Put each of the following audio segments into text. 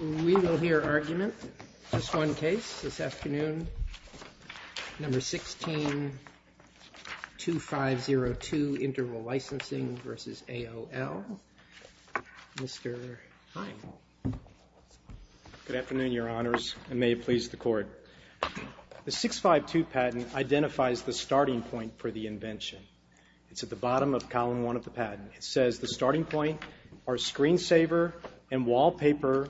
We will hear argument. Just one case this afternoon. Number 16-2502 Interval Licensing v. AOL. Mr. Hine. Good afternoon, Your Honors, and may it please the Court. The 652 patent identifies the starting point for the invention. It's at the bottom of Column 1 of the patent. It says the starting point are screen saver and wallpaper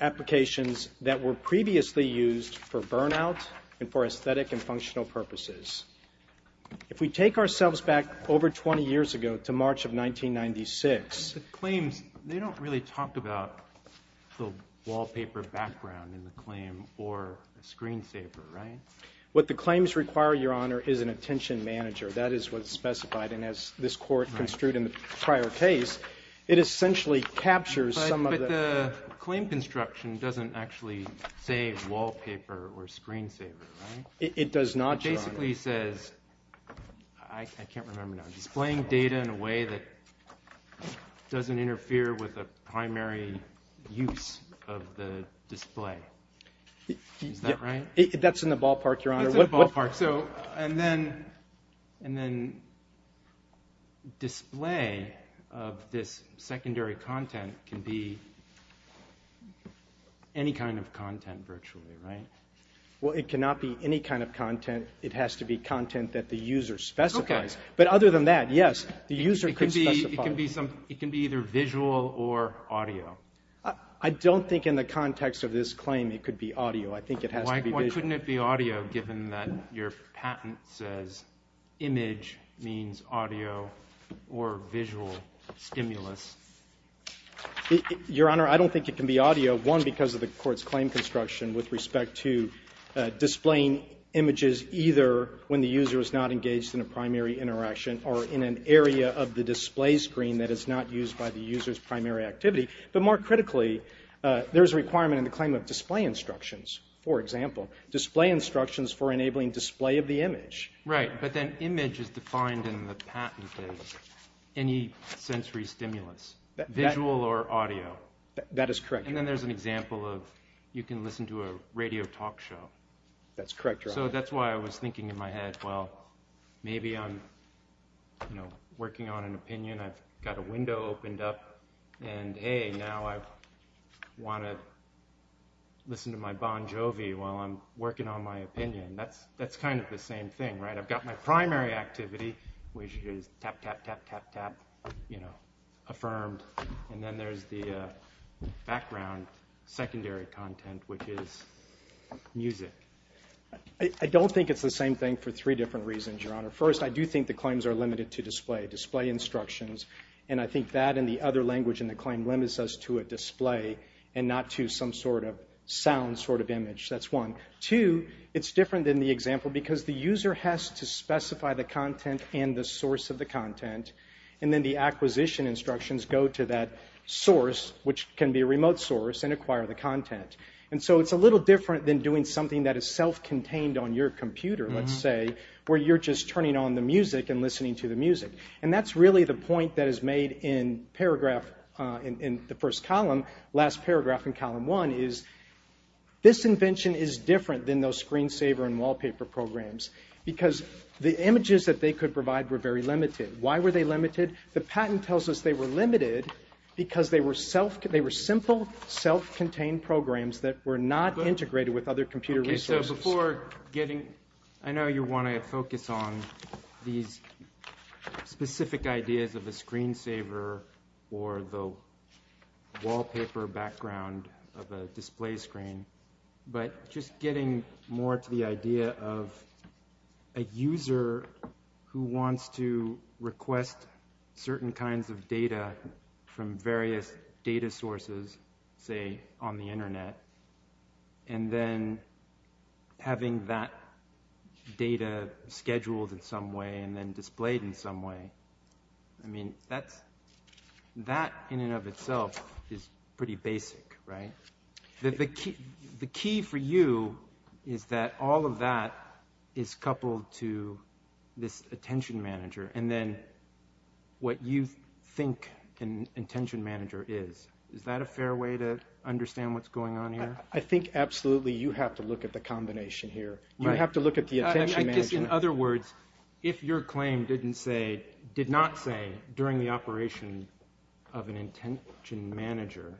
applications that were previously used for burnout and for aesthetic and functional purposes. If we take ourselves back over 20 years ago to March of 1996. The claims, they don't really talk about the wallpaper background in the claim or a screen saver, right? What the claims require, Your Honor, is an attention manager. That is what's specified. And as this Court construed in the prior case, it essentially captures some of the – But the claim construction doesn't actually say wallpaper or screen saver, right? It does not, Your Honor. It basically says – I can't remember now – displaying data in a way that doesn't interfere with the primary use of the display. Is that right? That's in the ballpark, Your Honor. That's in the ballpark. And then display of this secondary content can be any kind of content virtually, right? Well, it cannot be any kind of content. It has to be content that the user specifies. Okay. But other than that, yes, the user could specify. It can be either visual or audio. I don't think in the context of this claim it could be audio. I think it has to be visual. Why couldn't it be audio given that your patent says image means audio or visual stimulus? Your Honor, I don't think it can be audio, one, because of the Court's claim construction with respect to displaying images either when the user is not engaged in a primary interaction or in an area of the display screen that is not used by the user's primary activity. But more critically, there's a requirement in the claim of display instructions, for example, display instructions for enabling display of the image. Right, but then image is defined in the patent as any sensory stimulus, visual or audio. That is correct, Your Honor. And then there's an example of you can listen to a radio talk show. That's correct, Your Honor. So that's why I was thinking in my head, well, maybe I'm, you know, working on an opinion. I've got a window opened up. And, hey, now I want to listen to my Bon Jovi while I'm working on my opinion. That's kind of the same thing, right? I've got my primary activity, which is tap, tap, tap, tap, tap, you know, affirmed. And then there's the background secondary content, which is music. I don't think it's the same thing for three different reasons, Your Honor. First, I do think the claims are limited to display, display instructions. And I think that and the other language in the claim limits us to a display and not to some sort of sound sort of image. That's one. Two, it's different than the example because the user has to specify the content and the source of the content. And then the acquisition instructions go to that source, which can be a remote source, and acquire the content. And so it's a little different than doing something that is self-contained on your computer, let's say, where you're just turning on the music and listening to the music. And that's really the point that is made in paragraph in the first column, last paragraph in column one, is this invention is different than those screensaver and wallpaper programs because the images that they could provide were very limited. Why were they limited? The patent tells us they were limited because they were simple, self-contained programs that were not integrated with other computer resources. Okay. So before getting – I know you want to focus on these specific ideas of a screensaver or the wallpaper background of a display screen, but just getting more to the idea of a user who wants to request certain kinds of data from various data sources, say, on the Internet, and then having that data scheduled in some way and then displayed in some way, I mean, that in and of itself is pretty basic, right? The key for you is that all of that is coupled to this attention manager and then what you think an intention manager is. Is that a fair way to understand what's going on here? I think absolutely you have to look at the combination here. You have to look at the attention manager. I guess, in other words, if your claim did not say during the operation of an intention manager,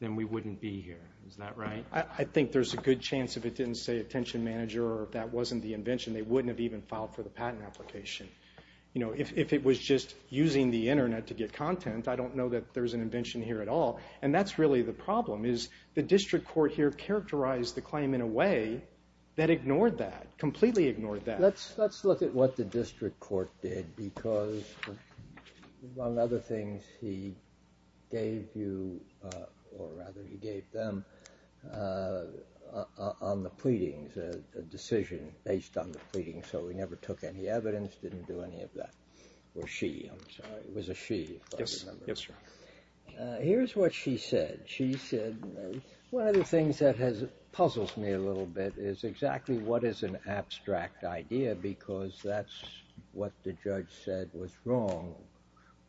then we wouldn't be here. Is that right? I think there's a good chance if it didn't say attention manager or if that wasn't the invention, they wouldn't have even filed for the patent application. If it was just using the Internet to get content, I don't know that there's an invention here at all, and that's really the problem is the district court here characterized the claim in a way that ignored that, completely ignored that. Let's look at what the district court did because among other things he gave you or rather he gave them on the pleadings, a decision based on the pleadings, so he never took any evidence, didn't do any of that, or she, I'm sorry. It was a she, if I remember. Here's what she said. One of the things that has puzzled me a little bit is exactly what is an abstract idea because that's what the judge said was wrong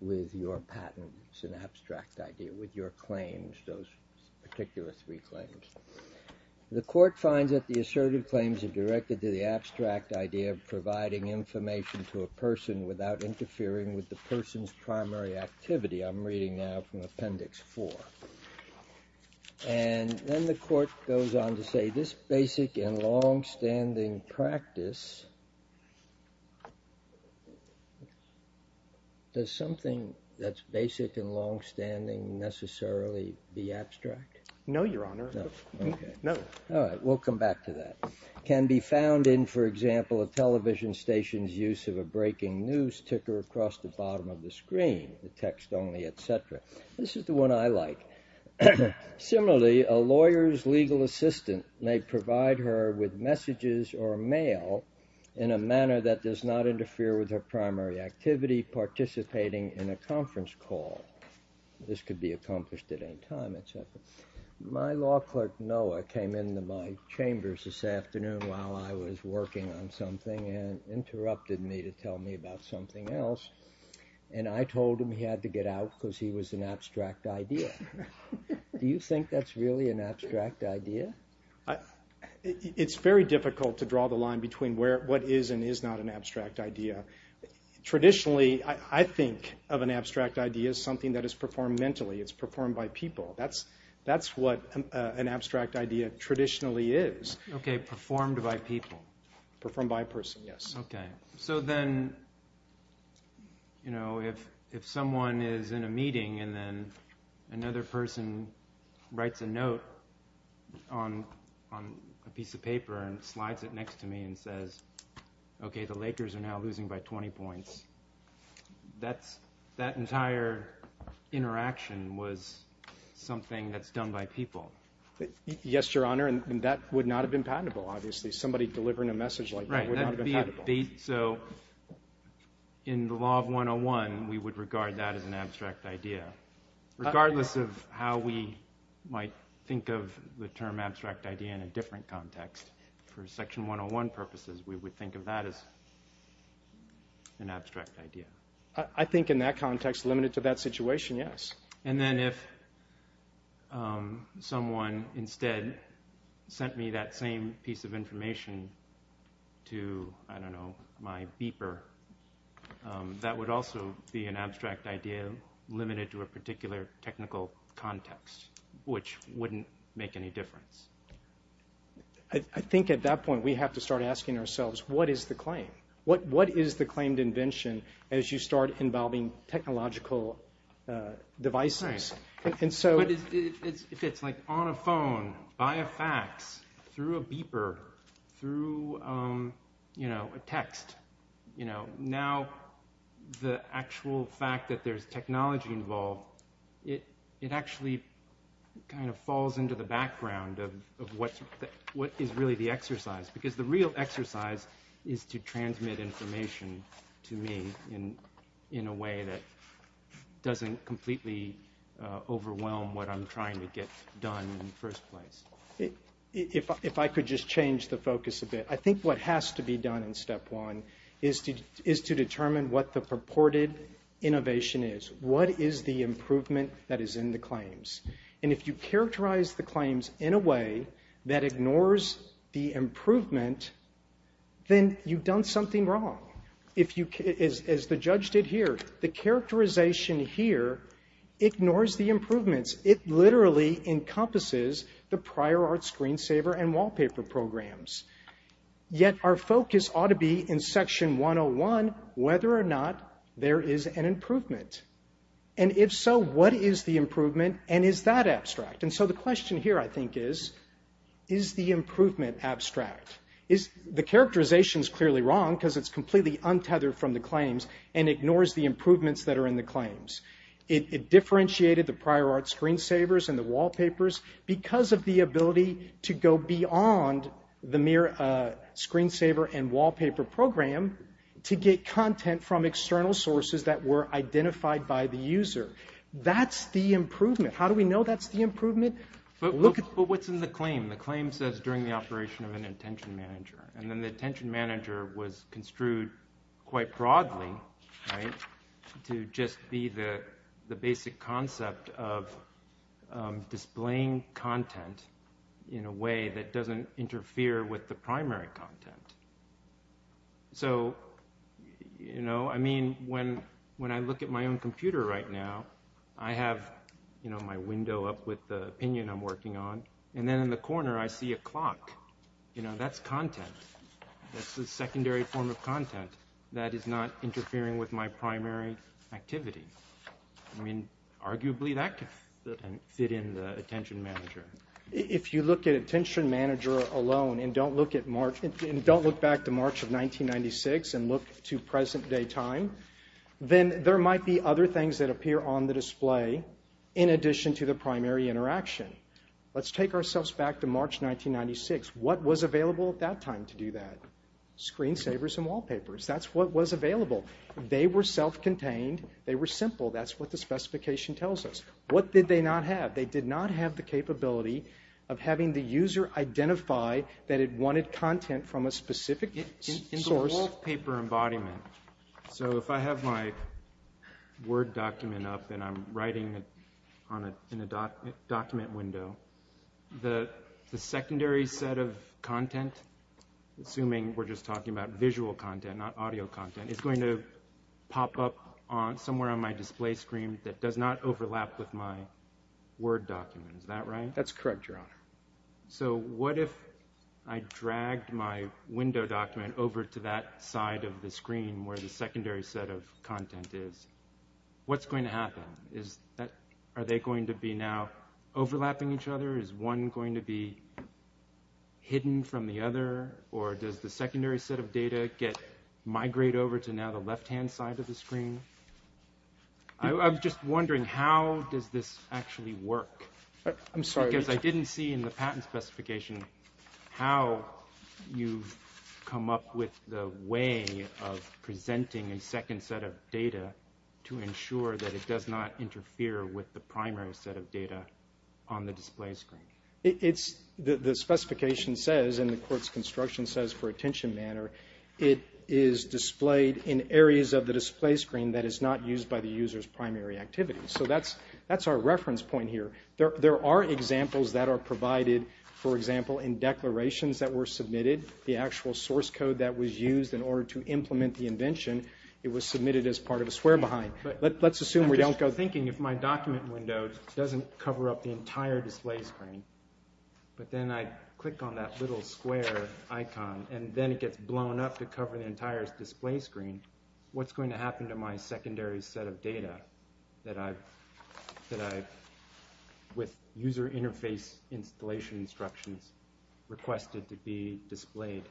with your patent. It's an abstract idea with your claims, those particular three claims. The court finds that the assertive claims are directed to the abstract idea of providing information to a person without interfering with the person's primary activity. I'm reading now from Appendix 4, and then the court goes on to say, this basic and longstanding practice, does something that's basic and longstanding necessarily be abstract? No, Your Honor. No, okay. No. All right. We'll come back to that. Can be found in, for example, a television station's use of a breaking news ticker across the bottom of the screen, text only, et cetera. This is the one I like. Similarly, a lawyer's legal assistant may provide her with messages or mail in a manner that does not interfere with her primary activity, participating in a conference call. This could be accomplished at any time, et cetera. My law clerk, Noah, came into my chambers this afternoon while I was working on something and interrupted me to tell me about something else, and I told him he had to get out because he was an abstract idea. Do you think that's really an abstract idea? It's very difficult to draw the line between what is and is not an abstract idea. Traditionally, I think of an abstract idea as something that is performed mentally. It's performed by people. That's what an abstract idea traditionally is. Okay, performed by people. Performed by a person, yes. Okay. So then, you know, if someone is in a meeting and then another person writes a note on a piece of paper and slides it next to me and says, okay, the Lakers are now losing by 20 points, that entire interaction was something that's done by people. Yes, Your Honor, and that would not have been patentable, obviously. Somebody delivering a message like that would not have been patentable. Right, so in the law of 101, we would regard that as an abstract idea. Regardless of how we might think of the term abstract idea in a different context, for Section 101 purposes, we would think of that as an abstract idea. I think in that context, limited to that situation, yes. And then if someone instead sent me that same piece of information to, I don't know, my beeper, that would also be an abstract idea limited to a particular technical context, which wouldn't make any difference. I think at that point we have to start asking ourselves, what is the claim? What is the claimed invention as you start involving technological devices? Right, but if it's like on a phone, via fax, through a beeper, through a text, now the actual fact that there's technology involved, it actually kind of falls into the background of what is really the exercise, because the real exercise is to transmit information to me in a way that doesn't completely overwhelm what I'm trying to get done in the first place. If I could just change the focus a bit, I think what has to be done in Step 1 is to determine what the purported innovation is. And if you characterize the claims in a way that ignores the improvement, then you've done something wrong. As the judge did here, the characterization here ignores the improvements. It literally encompasses the prior art screensaver and wallpaper programs. Yet our focus ought to be in Section 101 whether or not there is an improvement. And if so, what is the improvement, and is that abstract? And so the question here I think is, is the improvement abstract? The characterization is clearly wrong because it's completely untethered from the claims and ignores the improvements that are in the claims. It differentiated the prior art screensavers and the wallpapers because of the ability to go beyond the mere screensaver and wallpaper program to get content from external sources that were identified by the user. That's the improvement. How do we know that's the improvement? But what's in the claim? The claim says during the operation of an attention manager. And then the attention manager was construed quite broadly to just be the basic concept of displaying content in a way that doesn't interfere with the primary content. So, you know, I mean, when I look at my own computer right now, I have my window up with the opinion I'm working on, and then in the corner I see a clock. You know, that's content. That's the secondary form of content that is not interfering with my primary activity. I mean, arguably that can fit in the attention manager. If you look at attention manager alone and don't look back to March of 1996 and look to present day time, then there might be other things that appear on the display in addition to the primary interaction. Let's take ourselves back to March 1996. What was available at that time to do that? Screensavers and wallpapers. That's what was available. They were self-contained. They were simple. That's what the specification tells us. What did they not have? They did not have the capability of having the user identify that it wanted content from a specific source. It's a wallpaper embodiment. So if I have my Word document up and I'm writing in a document window, the secondary set of content, assuming we're just talking about visual content, not audio content, is going to pop up somewhere on my display screen that does not overlap with my Word document. Is that right? That's correct, Your Honor. So what if I dragged my window document over to that side of the screen where the secondary set of content is? What's going to happen? Are they going to be now overlapping each other? Is one going to be hidden from the other? Or does the secondary set of data migrate over to now the left-hand side of the screen? I'm just wondering, how does this actually work? I'm sorry. Because I didn't see in the patent specification how you come up with the way of presenting a second set of data to ensure that it does not interfere with the primary set of data on the display screen. It's the specification says, and the court's construction says for attention manner, it is displayed in areas of the display screen that is not used by the user's primary activity. So that's our reference point here. There are examples that are provided, for example, in declarations that were submitted. The actual source code that was used in order to implement the invention, it was submitted as part of a swear behind. Let's assume we don't go there. I'm just thinking if my document window doesn't cover up the entire display screen, but then I click on that little square icon, and then it gets blown up to cover the entire display screen, what's going to happen to my secondary set of data that I've, with user interface installation instructions, requested to be displayed?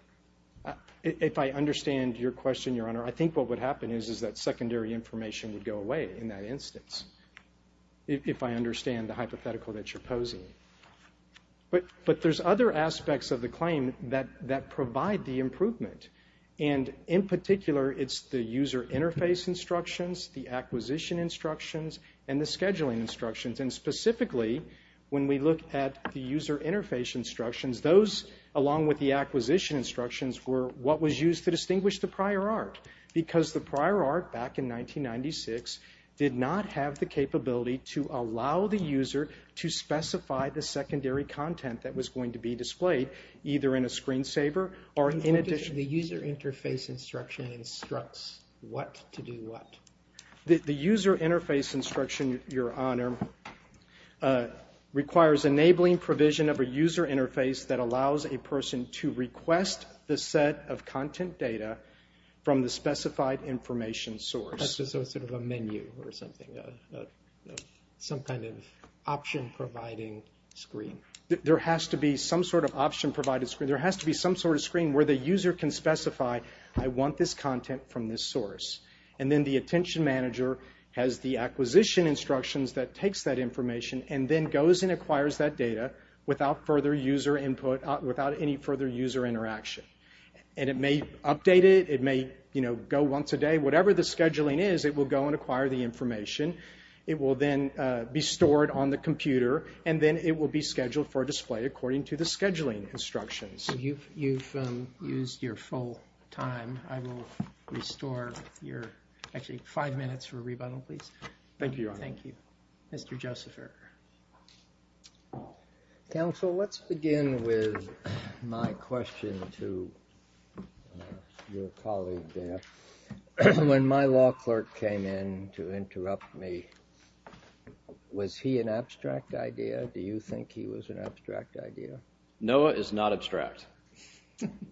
If I understand your question, Your Honor, I think what would happen is that secondary information would go away in that instance, if I understand the hypothetical that you're posing. But there's other aspects of the claim that provide the improvement. And in particular, it's the user interface instructions, the acquisition instructions, and the scheduling instructions. And specifically, when we look at the user interface instructions, those, along with the acquisition instructions, were what was used to distinguish the prior art. Because the prior art, back in 1996, did not have the capability to allow the user to specify the secondary content that was going to be displayed, either in a screensaver or in addition... The user interface instruction instructs what to do what. The user interface instruction, Your Honor, requires enabling provision of a user interface that allows a person to request the set of content data from the specified information source. That's just sort of a menu or something, some kind of option-providing screen. There has to be some sort of option-provided screen. There has to be some sort of screen where the user can specify, I want this content from this source. And then the attention manager has the acquisition instructions that takes that information and then goes and acquires that data without any further user interaction. And it may update it, it may go once a day, whatever the scheduling is, it will go and acquire the information. It will then be stored on the computer and then it will be scheduled for display according to the scheduling instructions. You've used your full time. I will restore your... Actually, five minutes for a rebuttal, please. Thank you, Your Honor. Thank you. Mr. Josepher. Counsel, let's begin with my question to your colleague there. When my law clerk came in to interrupt me, was he an abstract idea? Do you think he was an abstract idea? Noah is not abstract.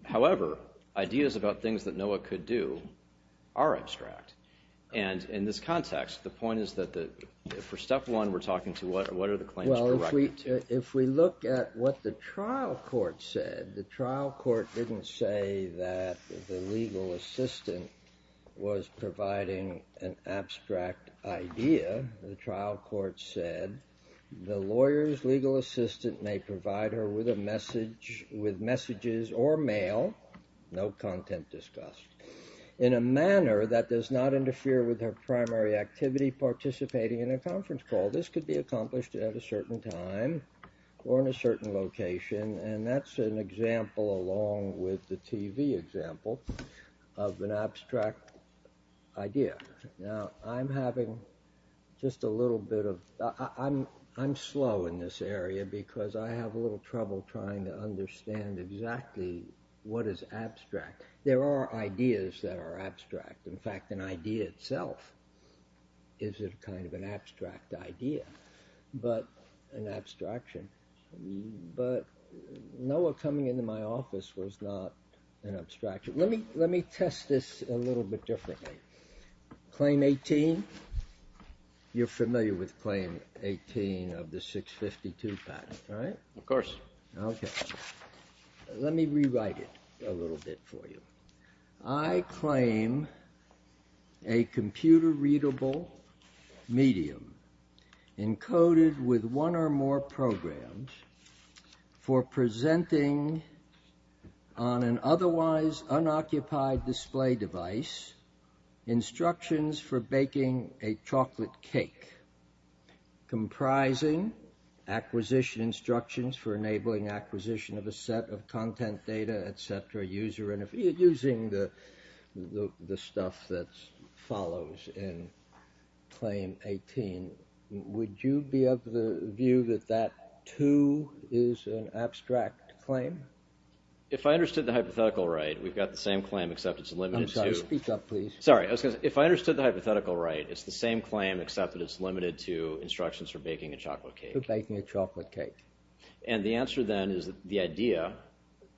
However, ideas about things that Noah could do are abstract. And in this context, the point is that for step one, we're talking to what are the claims corrected to? Well, if we look at what the trial court said, the trial court didn't say that the legal assistant was providing an abstract idea. The trial court said the lawyer's legal assistant may provide her with messages or mail, no content discussed, in a manner that does not interfere with her primary activity, participating in a conference call. This could be accomplished at a certain time or in a certain location. And that's an example, along with the TV example, of an abstract idea. Now, I'm having just a little bit of... I'm slow in this area because I have a little trouble trying to understand exactly what is abstract. There are ideas that are abstract. In fact, an idea itself is kind of an abstract idea, but an abstraction. But Noah coming into my office was not an abstraction. Let me test this a little bit differently. Claim 18. You're familiar with claim 18 of the 652 patent, right? Of course. Okay. Let me rewrite it a little bit for you. I claim a computer-readable medium encoded with one or more programs for presenting on an otherwise unoccupied display device instructions for baking a chocolate cake, comprising acquisition instructions for enabling acquisition of a set of content data, etc., using the stuff that follows in claim 18. Would you be of the view that that, too, is an abstract claim? If I understood the hypothetical right, we've got the same claim, except it's limited to... I'm sorry. Speak up, please. Sorry. If I understood the hypothetical right, it's the same claim, except that it's limited to instructions for baking a chocolate cake. For baking a chocolate cake. And the answer, then, is that the idea...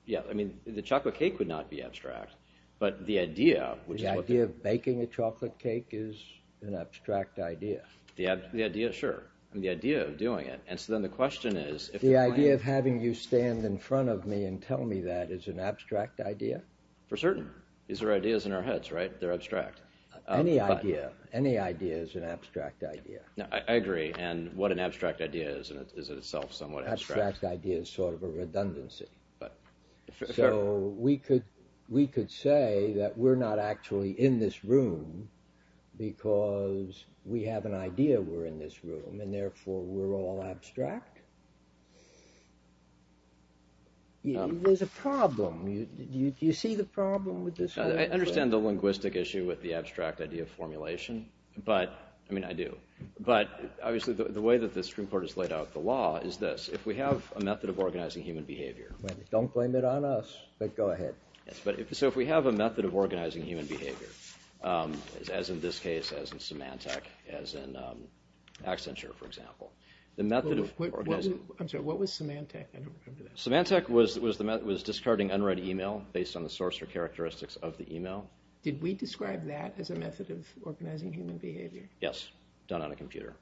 Yeah, I mean, the chocolate cake would not be abstract, but the idea, which is what... The idea of baking a chocolate cake is an abstract idea. The idea, sure. The idea of doing it. And so then the question is... The idea of having you stand in front of me and tell me that is an abstract idea? For certain. These are ideas in our heads, right? They're abstract. Any idea. Any idea is an abstract idea. I agree. And what an abstract idea is in itself somewhat abstract. Abstract idea is sort of a redundancy. So we could say that we're not actually in this room because we have an idea we're in this room, and therefore we're all abstract? There's a problem. Do you see the problem with this? I understand the linguistic issue with the abstract idea formulation. But, I mean, I do. But, obviously, the way that the Supreme Court has laid out the law is this. If we have a method of organizing human behavior... Don't blame it on us, but go ahead. So if we have a method of organizing human behavior, as in this case, as in Symantec, as in Accenture, for example, the method of organizing... I'm sorry. What was Symantec? I don't remember that. Symantec was discarding unread email based on the source or characteristics of the email. Did we describe that as a method of organizing human behavior? Yes. Done on a computer.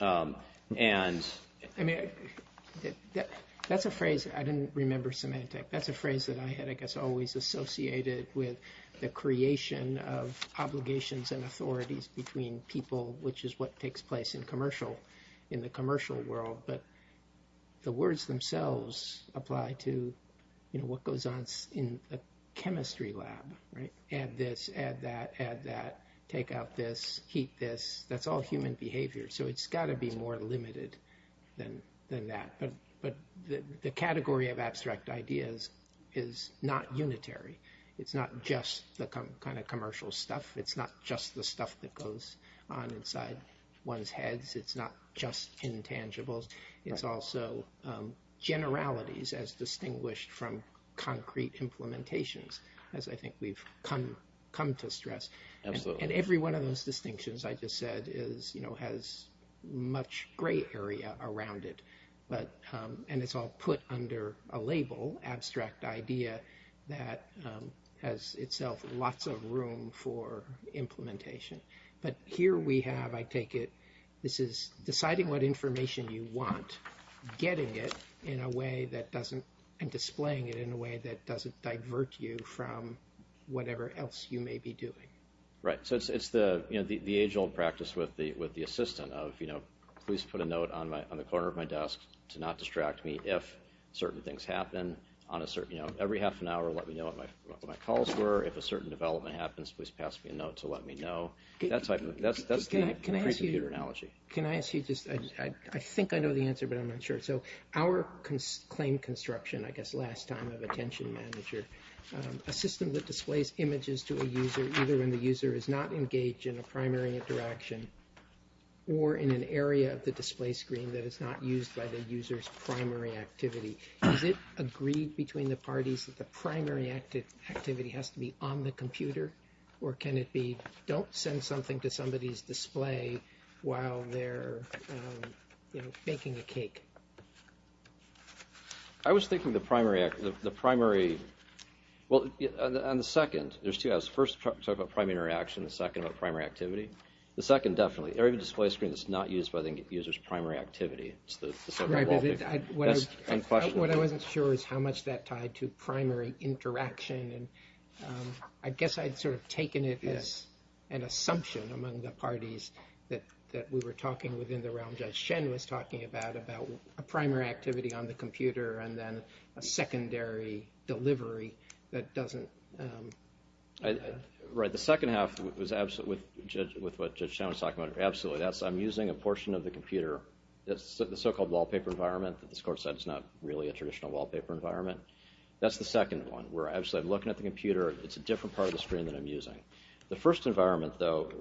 And... I mean, that's a phrase... I didn't remember Symantec. That's a phrase that I had, I guess, always associated with the creation of obligations and authorities between people, which is what takes place in commercial... in the commercial world. But the words themselves apply to, you know, what goes on in a chemistry lab. Right? Add this, add that, add that, take out this, heat this. That's all human behavior. So it's got to be more limited than that. But the category of abstract ideas is not unitary. It's not just the kind of commercial stuff. It's not just the stuff that goes on inside one's heads. It's not just intangibles. It's also generalities, as distinguished from concrete implementations, as I think we've come to stress. Absolutely. And every one of those distinctions, I just said, is, you know, has much gray area around it. But... And it's all put under a label, abstract idea that has itself lots of room for implementation. But here we have, I take it, this is deciding what information you want, getting it in a way that doesn't... and displaying it in a way that doesn't divert you from whatever else you may be doing. Right. So it's the age-old practice with the assistant of, you know, please put a note on the corner of my desk to not distract me if certain things happen on a certain... you know, every half an hour, let me know what my calls were. If a certain development happens, please pass me a note to let me know. That type of... That's the pre-computer analogy. Can I ask you just... I think I know the answer, but I'm not sure. So our claim construction, I guess, last time of attention manager, a system that displays images to a user either when the user is not engaged in a primary interaction or in an area of the display screen that is not used by the user's primary activity. Is it agreed between the parties that the primary activity has to be on the computer, or can it be don't send something to somebody's display while they're, you know, baking a cake? I was thinking the primary... Well, on the second, there's two. I was first talking about primary interaction and the second about primary activity. The second, definitely, area of the display screen that's not used by the user's primary activity. It's the... What I wasn't sure is how much that tied to primary interaction, and I guess I'd sort of taken it as an assumption among the parties that we were talking within the realm. Judge Shen was talking about, about a primary activity on the computer and then a secondary delivery that doesn't... Right. The second half was absolutely... With what Judge Shen was talking about, absolutely. I'm using a portion of the computer, the so-called wallpaper environment that this Court said is not really a traditional wallpaper environment. That's the second one, where I'm looking at the computer. It's a different part of the screen that I'm using. The first environment, though,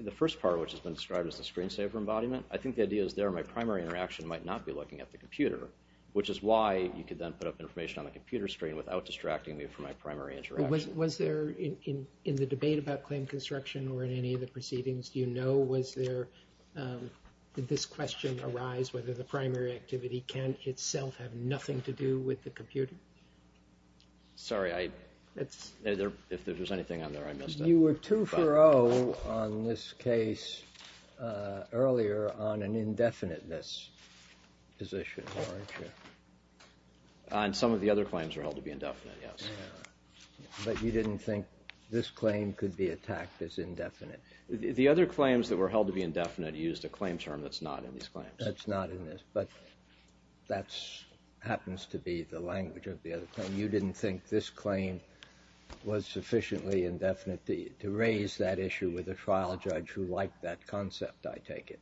the first part, which has been described as the screensaver embodiment, I think the idea is there my primary interaction might not be looking at the computer, which is why you could then put up information on the computer screen without distracting me from my primary interaction. Was there, in the debate about claim construction or in any of the proceedings, do you know was there... Did this question arise, whether the primary activity can itself have nothing to do with the computer? Sorry, I... If there was anything on there, I missed it. You were 2-for-0 on this case earlier on an indefiniteness position, weren't you? On some of the other claims were held to be indefinite, yes. But you didn't think this claim could be attacked as indefinite? The other claims that were held to be indefinite used a claim term that's not in these claims. That's not in this, but that happens to be the language of the other claim. You didn't think this claim was sufficiently indefinite to raise that issue with a trial judge who liked that concept, I take it?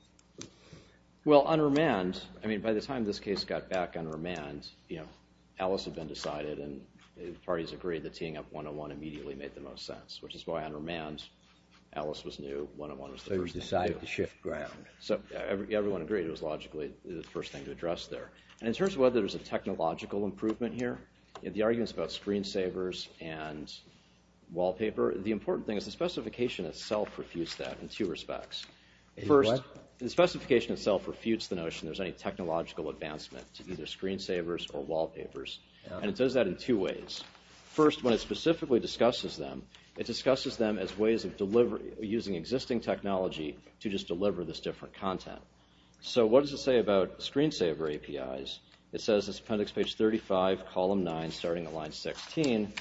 Well, on remand, I mean, by the time this case got back on remand, you know, Alice had been decided and the parties agreed that teeing up 101 immediately made the most sense, which is why on remand Alice was new, 101 was the first thing to do. So you decided to shift ground. So everyone agreed it was logically the first thing to address there. And in terms of whether there's a technological improvement here, the arguments about screensavers and wallpaper, the important thing is the specification itself refutes that in two respects. First, the specification itself refutes the notion there's any technological advancement to either screensavers or wallpapers. And it does that in two ways. First, when it specifically discusses them, it discusses them as ways of using existing technology to just deliver this different content. So what does it say about screensaver APIs? It says it's appendix page 35, column 9, starting at line 16.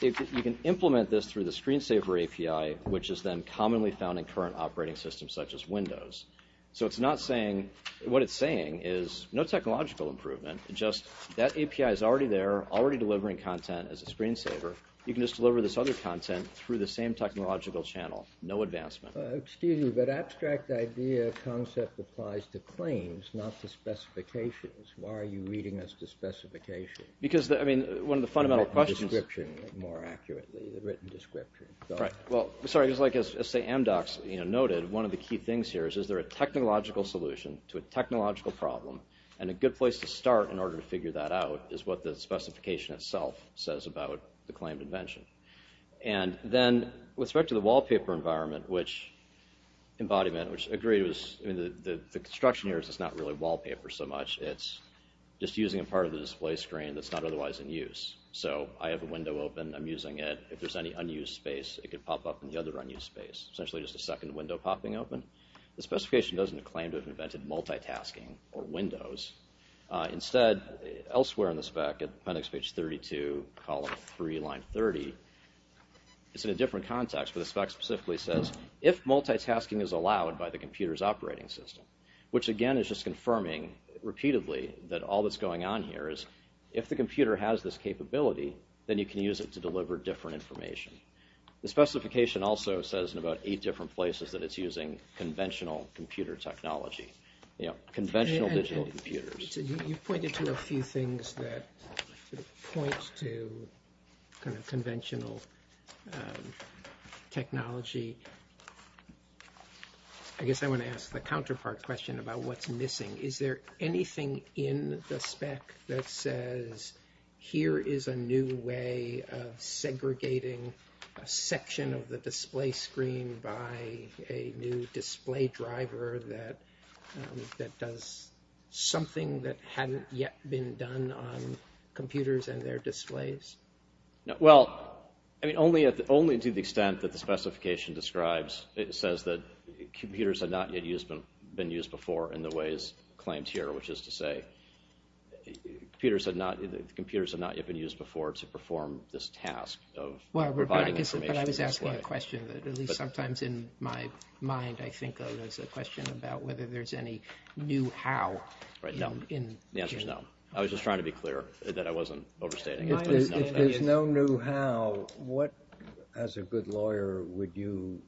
You can implement this through the screensaver API, which is then commonly found in current operating systems such as Windows. So what it's saying is no technological improvement, just that API is already there, already delivering content as a screensaver. You can just deliver this other content through the same technological channel, no advancement. Excuse me, but abstract idea concept applies to claims, not to specifications. Why are you reading us to specifications? Because, I mean, one of the fundamental questions... The written description, more accurately. The written description. Right. Well, sorry. It's like, as, say, Amdocs noted, one of the key things here is, is there a technological solution to a technological problem? And a good place to start in order to figure that out is what the specification itself says about the claimed invention. And then, with respect to the wallpaper environment, which Embodiment, which agreed was... I mean, the construction here is it's not really wallpaper so much. It's just using a part of the display screen that's not otherwise in use. So I have a window open, I'm using it. If there's any unused space, it could pop up in the other unused space, essentially just a second window popping open. The specification doesn't claim to have invented multitasking or windows. Instead, elsewhere in the spec, at appendix page 32, column 3, line 30, it's in a different context, but the spec specifically says, if multitasking is allowed by the computer's operating system, which, again, is just confirming repeatedly that all that's going on here is, if the computer has this capability, then you can use it to deliver different information. The specification also says in about eight different places that it's using conventional computer technology, you know, conventional digital computers. You've pointed to a few things that point to kind of conventional technology. I guess I want to ask the counterpart question about what's missing. Is there anything in the spec that says, here is a new way of segregating a section of the display screen by a new display driver that does something that hadn't yet been done on computers and their displays? Well, I mean, only to the extent that the specification describes, it says that computers had not yet been used before in the ways claimed here, which is to say computers had not yet been used before to perform this task of providing information. But I was asking a question that, at least sometimes in my mind, I think there's a question about whether there's any new how. Right, no. The answer's no. I was just trying to be clear that I wasn't overstating it. If there's no new how, what, as a good lawyer, would you...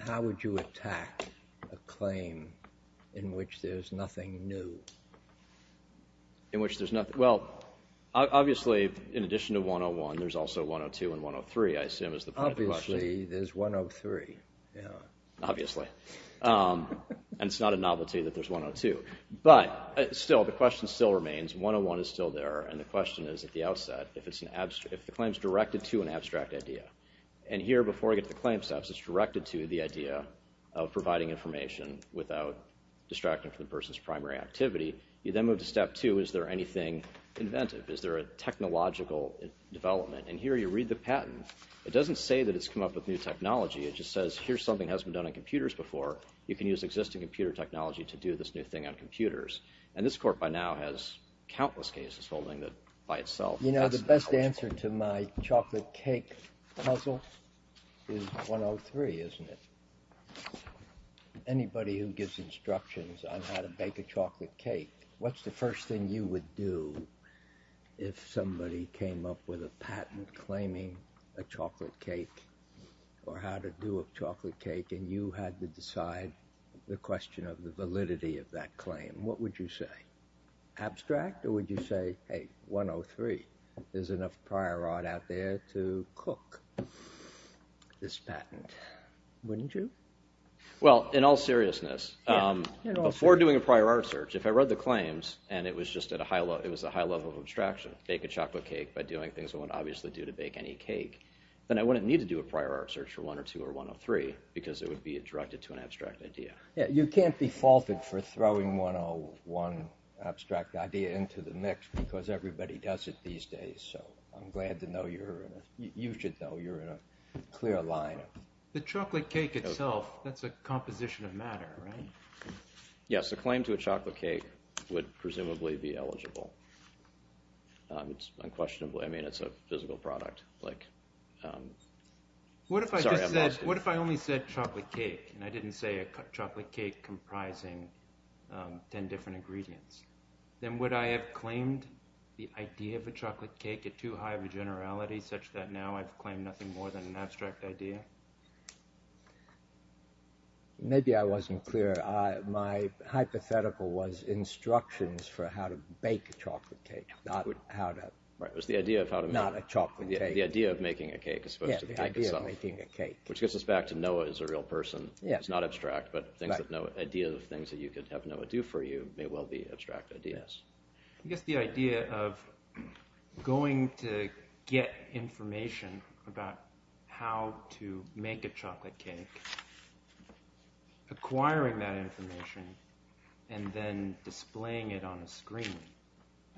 how would you attack a claim in which there's nothing new? In which there's nothing... Well, obviously, in addition to 101, there's also 102 and 103, I assume, is the point of the question. Obviously, there's 103, yeah. Obviously. And it's not a novelty that there's 102. But still, the question still remains. 101 is still there, and the question is, at the outset, if the claim's directed to an abstract idea. And here, before I get to the claim steps, it's directed to the idea of providing information without distracting from the person's primary activity. You then move to step 2, is there anything inventive? Is there a technological development? And here you read the patent. It doesn't say that it's come up with new technology. It just says, here's something that hasn't been done on computers before. You can use existing computer technology to do this new thing on computers. And this Court by now has countless cases holding that by itself. You know, the best answer to my chocolate cake puzzle is 103, isn't it? Anybody who gives instructions on how to bake a chocolate cake, what's the first thing you would do if somebody came up with a patent claiming a chocolate cake or how to do a chocolate cake, and you had to decide the question of the validity of that claim? What would you say? Abstract, or would you say, hey, 103, there's enough prior art out there to cook this patent, wouldn't you? Well, in all seriousness, before doing a prior art search, if I read the claims and it was just at a high level of abstraction, bake a chocolate cake by doing things I wouldn't obviously do to bake any cake, then I wouldn't need to do a prior art search for 102 or 103 because it would be directed to an abstract idea. Yeah, you can't be faulted for throwing 101 abstract idea into the mix because everybody does it these days, so I'm glad to know you're in a, you should know you're in a clear line. The chocolate cake itself, that's a composition of matter, right? Yes, a claim to a chocolate cake would presumably be eligible. It's unquestionably, I mean, it's a physical product. What if I just said, what if I only said chocolate cake and I didn't say a chocolate cake comprising 10 different ingredients? Then would I have claimed the idea of a chocolate cake at too high of a generality such that now I've claimed nothing more than an abstract idea? Maybe I wasn't clear. My hypothetical was instructions for how to bake a chocolate cake, not how to, not a chocolate cake. The idea of making a cake as opposed to the cake itself. Yeah, the idea of making a cake. Which gets us back to Noah as a real person. It's not abstract, but the idea of things that you could have Noah do for you may well be abstract ideas. I guess the idea of going to get information about how to make a chocolate cake, acquiring that information, and then displaying it on a screen,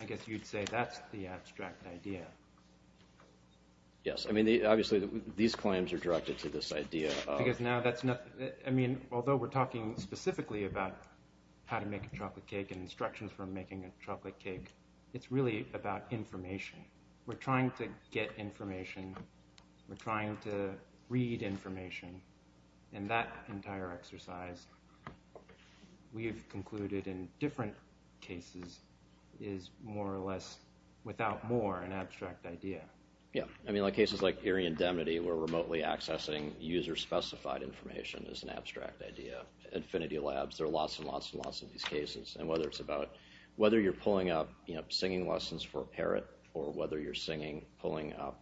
I guess you'd say that's the abstract idea. Yes, I mean, obviously these claims are directed to this idea. Because now that's not, I mean, although we're talking specifically about how to make a chocolate cake and instructions for making a chocolate cake, it's really about information. We're trying to get information. We're trying to read information. And that entire exercise, we have concluded in different cases, is more or less, without more, an abstract idea. Yeah, I mean, like cases like Erie Indemnity, where remotely accessing user-specified information is an abstract idea. Infinity Labs, there are lots and lots and lots of these cases. And whether it's about, whether you're pulling up singing lessons for a parrot, or whether you're singing, pulling up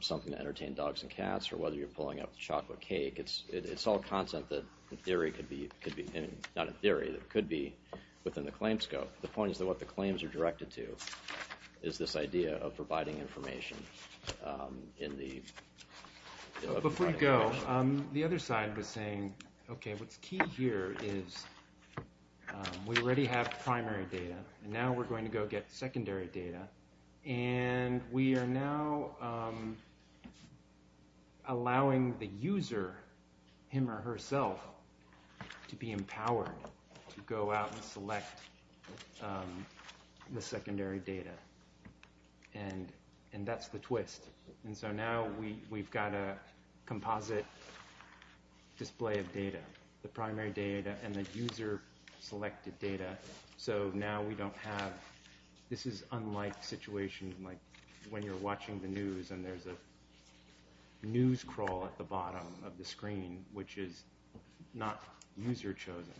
something to entertain dogs and cats, or whether you're pulling up chocolate cake, it's all content that in theory could be, not in theory, but it could be within the claim scope. The point is that what the claims are directed to is this idea of providing information in the... Before you go, the other side was saying, okay, what's key here is we already have primary data, and now we're going to go get secondary data. And we are now allowing the user, him or herself, to be empowered to go out and select the secondary data. And that's the twist. And so now we've got a composite display of data, the primary data and the user-selected data. So now we don't have, this is unlike situations like when you're watching the news and there's a news crawl at the bottom of the screen which is not user-chosen,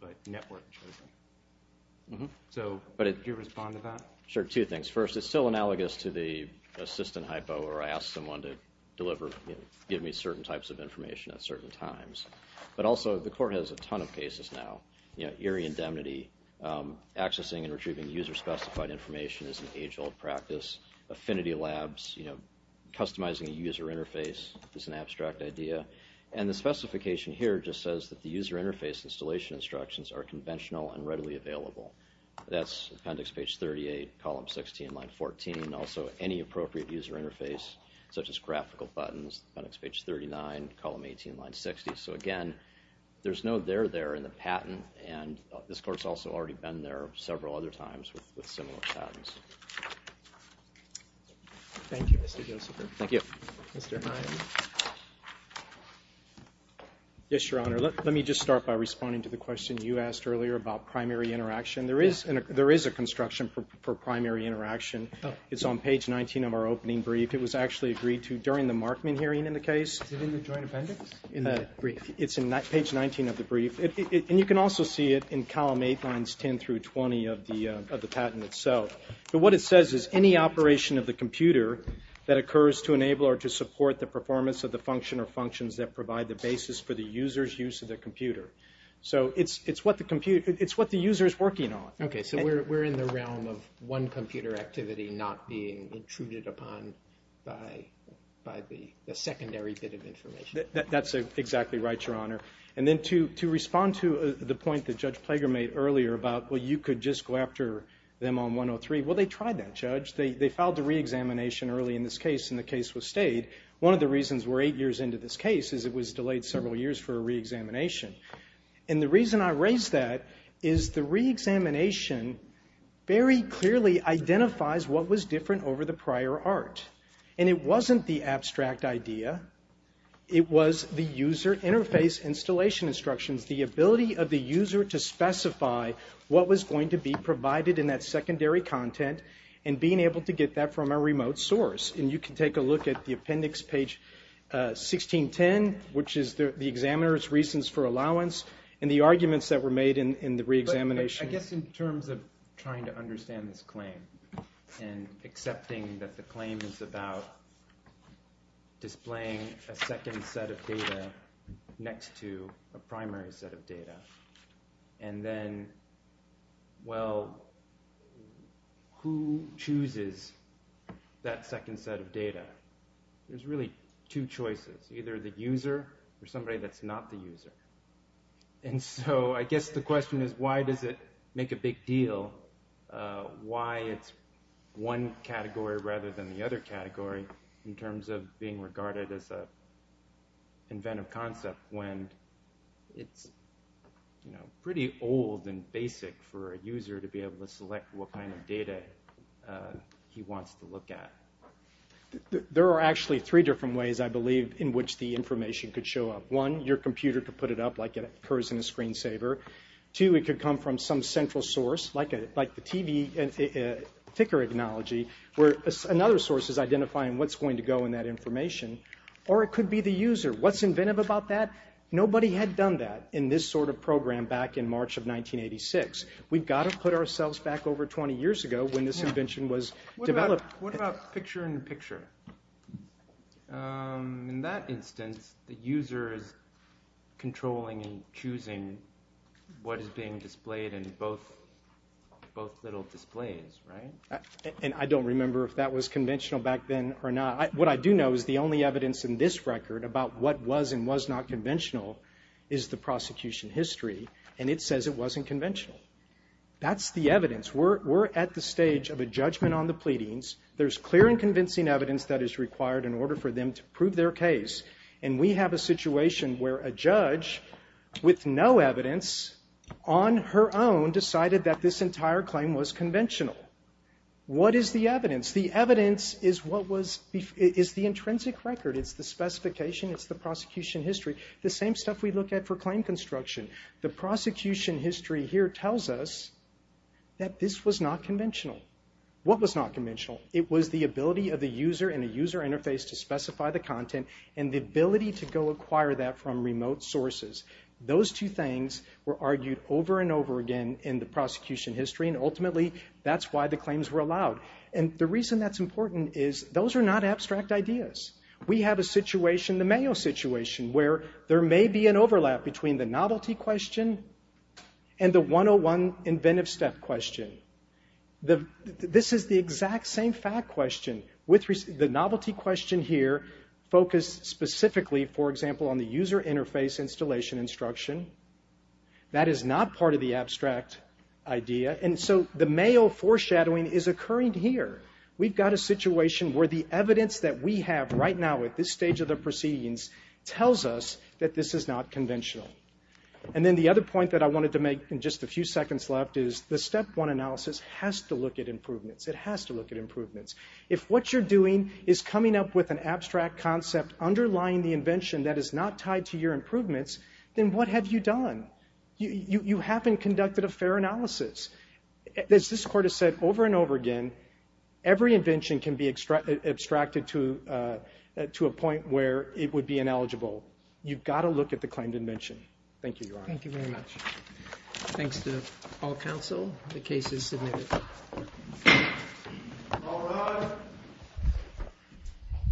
but network-chosen. So could you respond to that? Sure, two things. First, it's still analogous to the assistant hypo where I ask someone to deliver, give me certain types of information at certain times. But also, the court has a ton of cases now. You know, eerie indemnity, accessing and retrieving user-specified information is an age-old practice. Affinity Labs, you know, customizing a user interface is an abstract idea. And the specification here just says that the user interface installation instructions are conventional and readily available. That's appendix page 38, column 16, line 14, and also any appropriate user interface such as graphical buttons, appendix page 39, column 18, line 60. So again, there's no there there in the patent, and this court's also already been there several other times with similar patents. Thank you, Mr. Josepher. Thank you. Mr. Hine. Yes, Your Honor. Let me just start by responding to the question you asked earlier about primary interaction. There is a construction for primary interaction. It's on page 19 of our opening brief. It was actually agreed to during the Markman hearing in the case. Is it in the joint appendix in the brief? It's in page 19 of the brief. And you can also see it in column 8, lines 10 through 20 of the patent itself. But what it says is, any operation of the computer that occurs to enable or to support the performance of the function or functions that provide the basis for the user's use of the computer. So it's what the user is working on. Okay, so we're in the realm of one computer activity not being intruded upon by the secondary bit of information. That's exactly right, Your Honor. And then to respond to the point that Judge Plager made earlier about, well, you could just go after them on 103. Well, they tried that, Judge. They filed the reexamination early in this case and the case was stayed. One of the reasons we're eight years into this case is it was delayed several years for a reexamination. And the reason I raise that is the reexamination very clearly identifies what was different over the prior art. And it wasn't the abstract idea. It was the user interface installation instructions, the ability of the user to specify what was going to be provided in that secondary content and being able to get that from a remote source. And you can take a look at the appendix, page 1610, which is the examiner's reasons for allowance and the arguments that were made in the reexamination. I guess in terms of trying to understand this claim and accepting that the claim is about displaying a second set of data next to a primary set of data, and then, well, who chooses that second set of data? There's really two choices, either the user or somebody that's not the user. And so I guess the question is, why does it make a big deal why it's one category rather than the other category in terms of being regarded as an inventive concept when it's pretty old and basic for a user to be able to select what kind of data he wants to look at. There are actually three different ways, I believe, in which the information could show up. One, your computer could put it up like it occurs in a screensaver. Two, it could come from some central source, like the TV ticker technology, where another source is identifying what's going to go in that information. Or it could be the user. What's inventive about that? Nobody had done that in this sort of program back in March of 1986. We've got to put ourselves back over 20 years ago when this invention was developed. What about picture in picture? In that instance, the user is controlling and choosing what is being displayed in both little displays, right? And I don't remember if that was conventional back then or not. What I do know is the only evidence in this record about what was and was not conventional is the prosecution history, and it says it wasn't conventional. That's the evidence. We're at the stage of a judgment on the pleadings. There's clear and convincing evidence that is required in order for them to prove their case, and we have a situation where a judge with no evidence on her own decided that this entire claim was conventional. What is the evidence? The evidence is the intrinsic record. It's the specification. It's the prosecution history. The same stuff we look at for claim construction. The prosecution history here tells us that this was not conventional. What was not conventional? It was the ability of the user in a user interface to specify the content and the ability to go acquire that from remote sources. Those two things were argued over and over again in the prosecution history, and ultimately, that's why the claims were allowed. And the reason that's important is those are not abstract ideas. We have a situation, the Mayo situation, where there may be an overlap between the novelty question and the 101 inventive step question. This is the exact same fact question. The novelty question here focused specifically, for example, on the user interface installation instruction. That is not part of the abstract idea, and so the Mayo foreshadowing is occurring here. We've got a situation where the evidence that we have right now at this stage of the proceedings tells us that this is not conventional. And then the other point that I wanted to make in just a few seconds left is the step one analysis has to look at improvements. It has to look at improvements. If what you're doing is coming up with an abstract concept underlying the invention that is not tied to your improvements, then what have you done? You haven't conducted a fair analysis. As this court has said over and over again, every invention can be abstracted to a point where it would be ineligible. You've got to look at the claimed invention. Thank you, Your Honor. Thank you very much. Thanks to all counsel. The case is submitted.